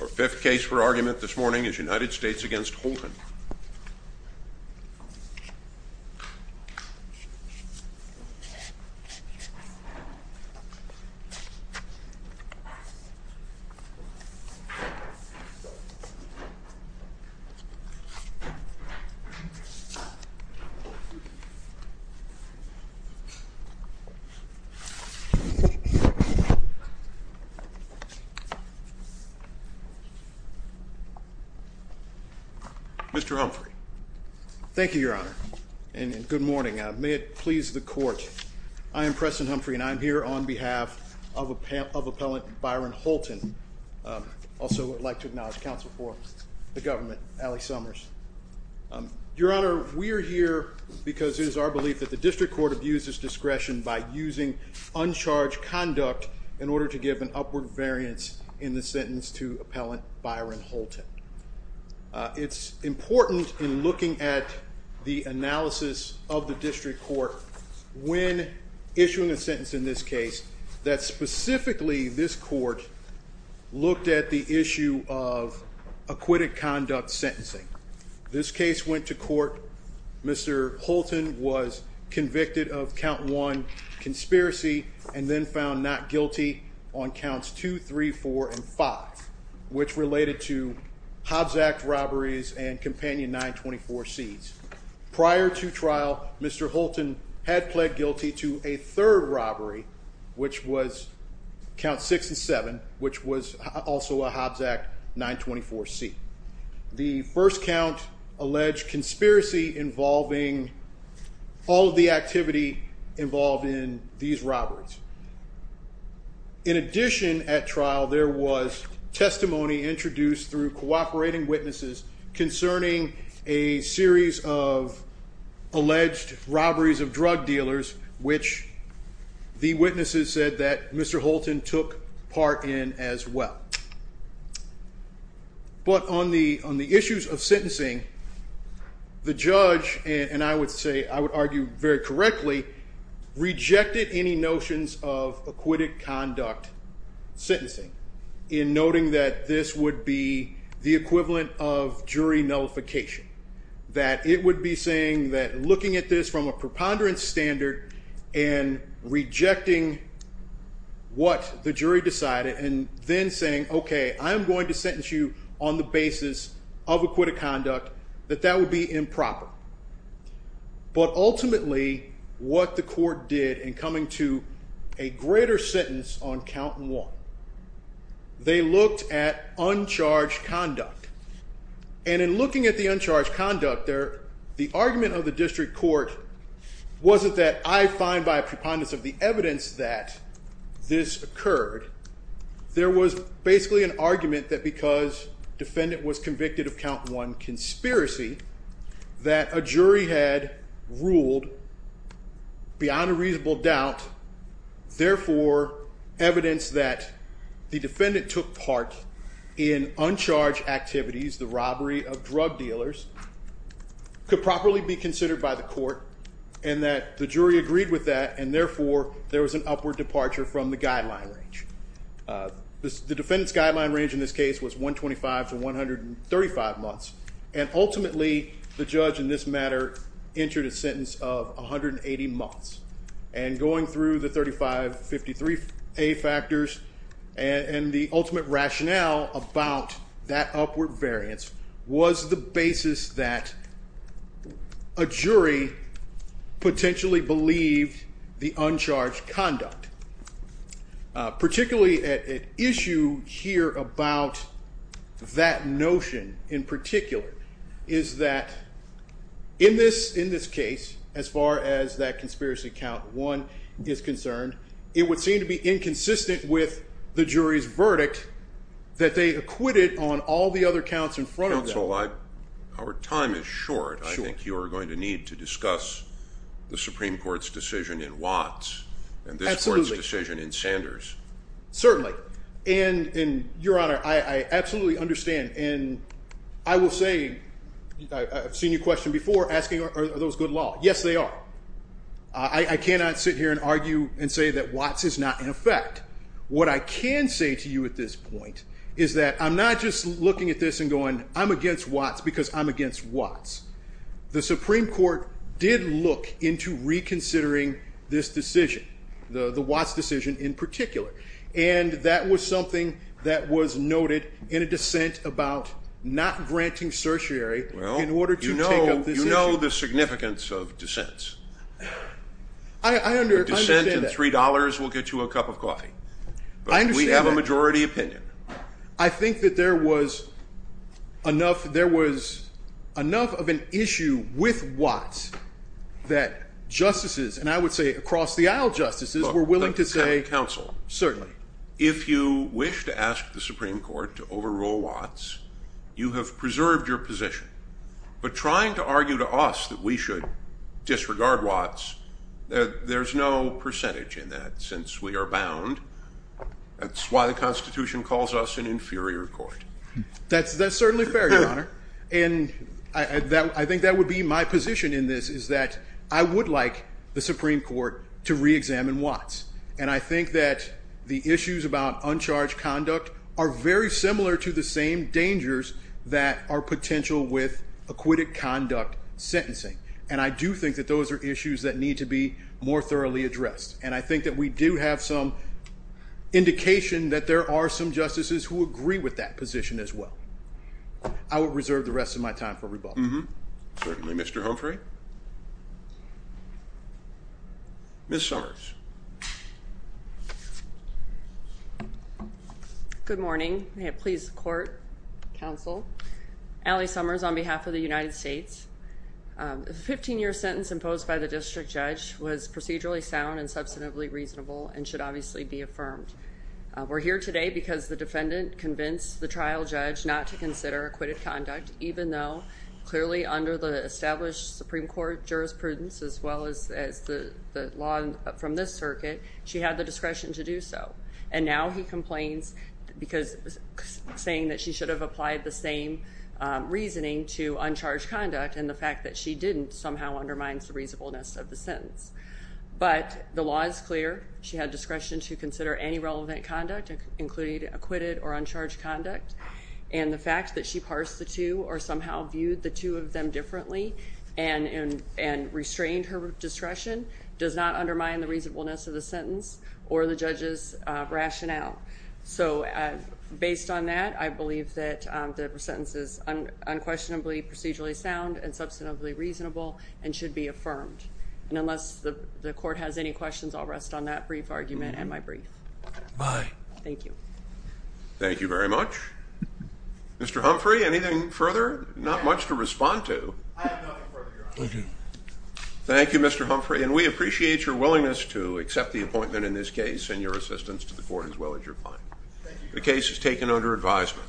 Our fifth case for argument this morning is United States v. Holton. Mr. Humphrey Thank you, Your Honor, and good morning. May it please the court, I am Preston Humphrey and I am here on behalf of appellant Byron Holton. Also would like to acknowledge counsel for the government, Allie Summers. Your Honor, we are here because it is our belief that the district court abuses discretion by using uncharged conduct in order to give an upward variance in the sentence to appellant Byron Holton. It is important in looking at the analysis of the district court when issuing a sentence in this case that specifically this court looked at the issue of acquitted conduct sentencing. This case went to court. Mr. Holton was convicted of count 1 conspiracy and then found not guilty on counts 2, 3, 4, and 5, which related to Hobbs Act robberies and companion 924 C's. Prior to trial, Mr. Holton had pled guilty to a third robbery, which was count 6 and 7, which was also a Hobbs Act 924 C. The first count alleged conspiracy involving all of the activity involved in these robberies. In addition, at trial, there was testimony introduced through cooperating witnesses concerning a series of alleged robberies of drug dealers, which the witnesses said that Mr. Holton took part in as well. But on the issues of sentencing, the judge, and I would argue very correctly, rejected any notions of acquitted conduct sentencing in noting that this would be the equivalent of jury nullification. That it would be saying that looking at this from a preponderance standard and rejecting what the jury decided and then saying, OK, I'm going to sentence you on the basis of acquitted conduct, that that would be improper. But ultimately, what the court did in coming to a greater sentence on count 1, they looked at uncharged conduct. And in looking at the uncharged conduct, the argument of the district court wasn't that I find by a preponderance of the evidence that this occurred. There was basically an argument that because defendant was convicted of count 1 conspiracy, that a jury had ruled beyond a reasonable doubt. Therefore, evidence that the defendant took part in uncharged activities, the robbery of drug dealers, could properly be considered by the court. And that the jury agreed with that, and therefore, there was an upward departure from the guideline range. The defendant's guideline range in this case was 125 to 135 months. And ultimately, the judge in this matter entered a sentence of 180 months. And going through the 3553 factors and the ultimate rationale about that upward variance was the basis that. A jury potentially believed the uncharged conduct. Particularly at issue here about that notion in particular. Is that in this in this case, as far as that conspiracy count one is concerned, it would seem to be inconsistent with the jury's verdict. That they acquitted on all the other counts in front of our time is short. I think you're going to need to discuss the Supreme Court's decision in Watts and this court's decision in Sanders. Certainly, and in your honor, I absolutely understand and I will say. I've seen you question before asking are those good law? Yes, they are. I cannot sit here and argue and say that Watts is not in effect. What I can say to you at this point is that I'm not just looking at this and going. I'm against Watts because I'm against Watts. The Supreme Court did look into reconsidering this decision. The Watts decision in particular, and that was something that was noted in a dissent about not granting certiorari. Well, in order to know, you know the significance of dissents. I understand $3 will get you a cup of coffee. We have a majority opinion. I think that there was enough. There was enough of an issue with Watts that justices and I would say across the aisle. Justices were willing to say counsel. Certainly, if you wish to ask the Supreme Court to overrule Watts, you have preserved your position. But trying to argue to us that we should disregard Watts, there's no percentage in that since we are bound. That's why the Constitution calls us an inferior court. That's certainly fair, Your Honor. And I think that would be my position in this is that I would like the Supreme Court to reexamine Watts. And I think that the issues about uncharged conduct are very similar to the same dangers that are potential with acquitted conduct sentencing. And I do think that those are issues that need to be more thoroughly addressed. And I think that we do have some indication that there are some justices who agree with that position as well. I will reserve the rest of my time for rebuttal. Certainly, Mr. Humphrey. Ms. Summers. Good morning. May it please the court, counsel. Allie Summers on behalf of the United States. The 15-year sentence imposed by the district judge was procedurally sound and substantively reasonable and should obviously be affirmed. We're here today because the defendant convinced the trial judge not to consider acquitted conduct, even though clearly under the established Supreme Court jurisprudence as well as the law from this circuit, she had the discretion to do so. And now he complains because saying that she should have applied the same reasoning to uncharged conduct and the fact that she didn't somehow undermines the reasonableness of the sentence. But the law is clear. She had discretion to consider any relevant conduct, including acquitted or uncharged conduct. And the fact that she parsed the two or somehow viewed the two of them differently and restrained her discretion does not undermine the reasonableness of the sentence or the judge's rationale. So based on that, I believe that the sentence is unquestionably procedurally sound and substantively reasonable and should be affirmed. And unless the court has any questions, I'll rest on that brief argument and my brief. Thank you. Thank you very much. Mr. Humphrey, anything further? Not much to respond to. I have nothing further, Your Honor. Thank you. Thank you, Mr. Humphrey. And we appreciate your willingness to accept the appointment in this case and your assistance to the court as well as your client. The case is taken under advisement.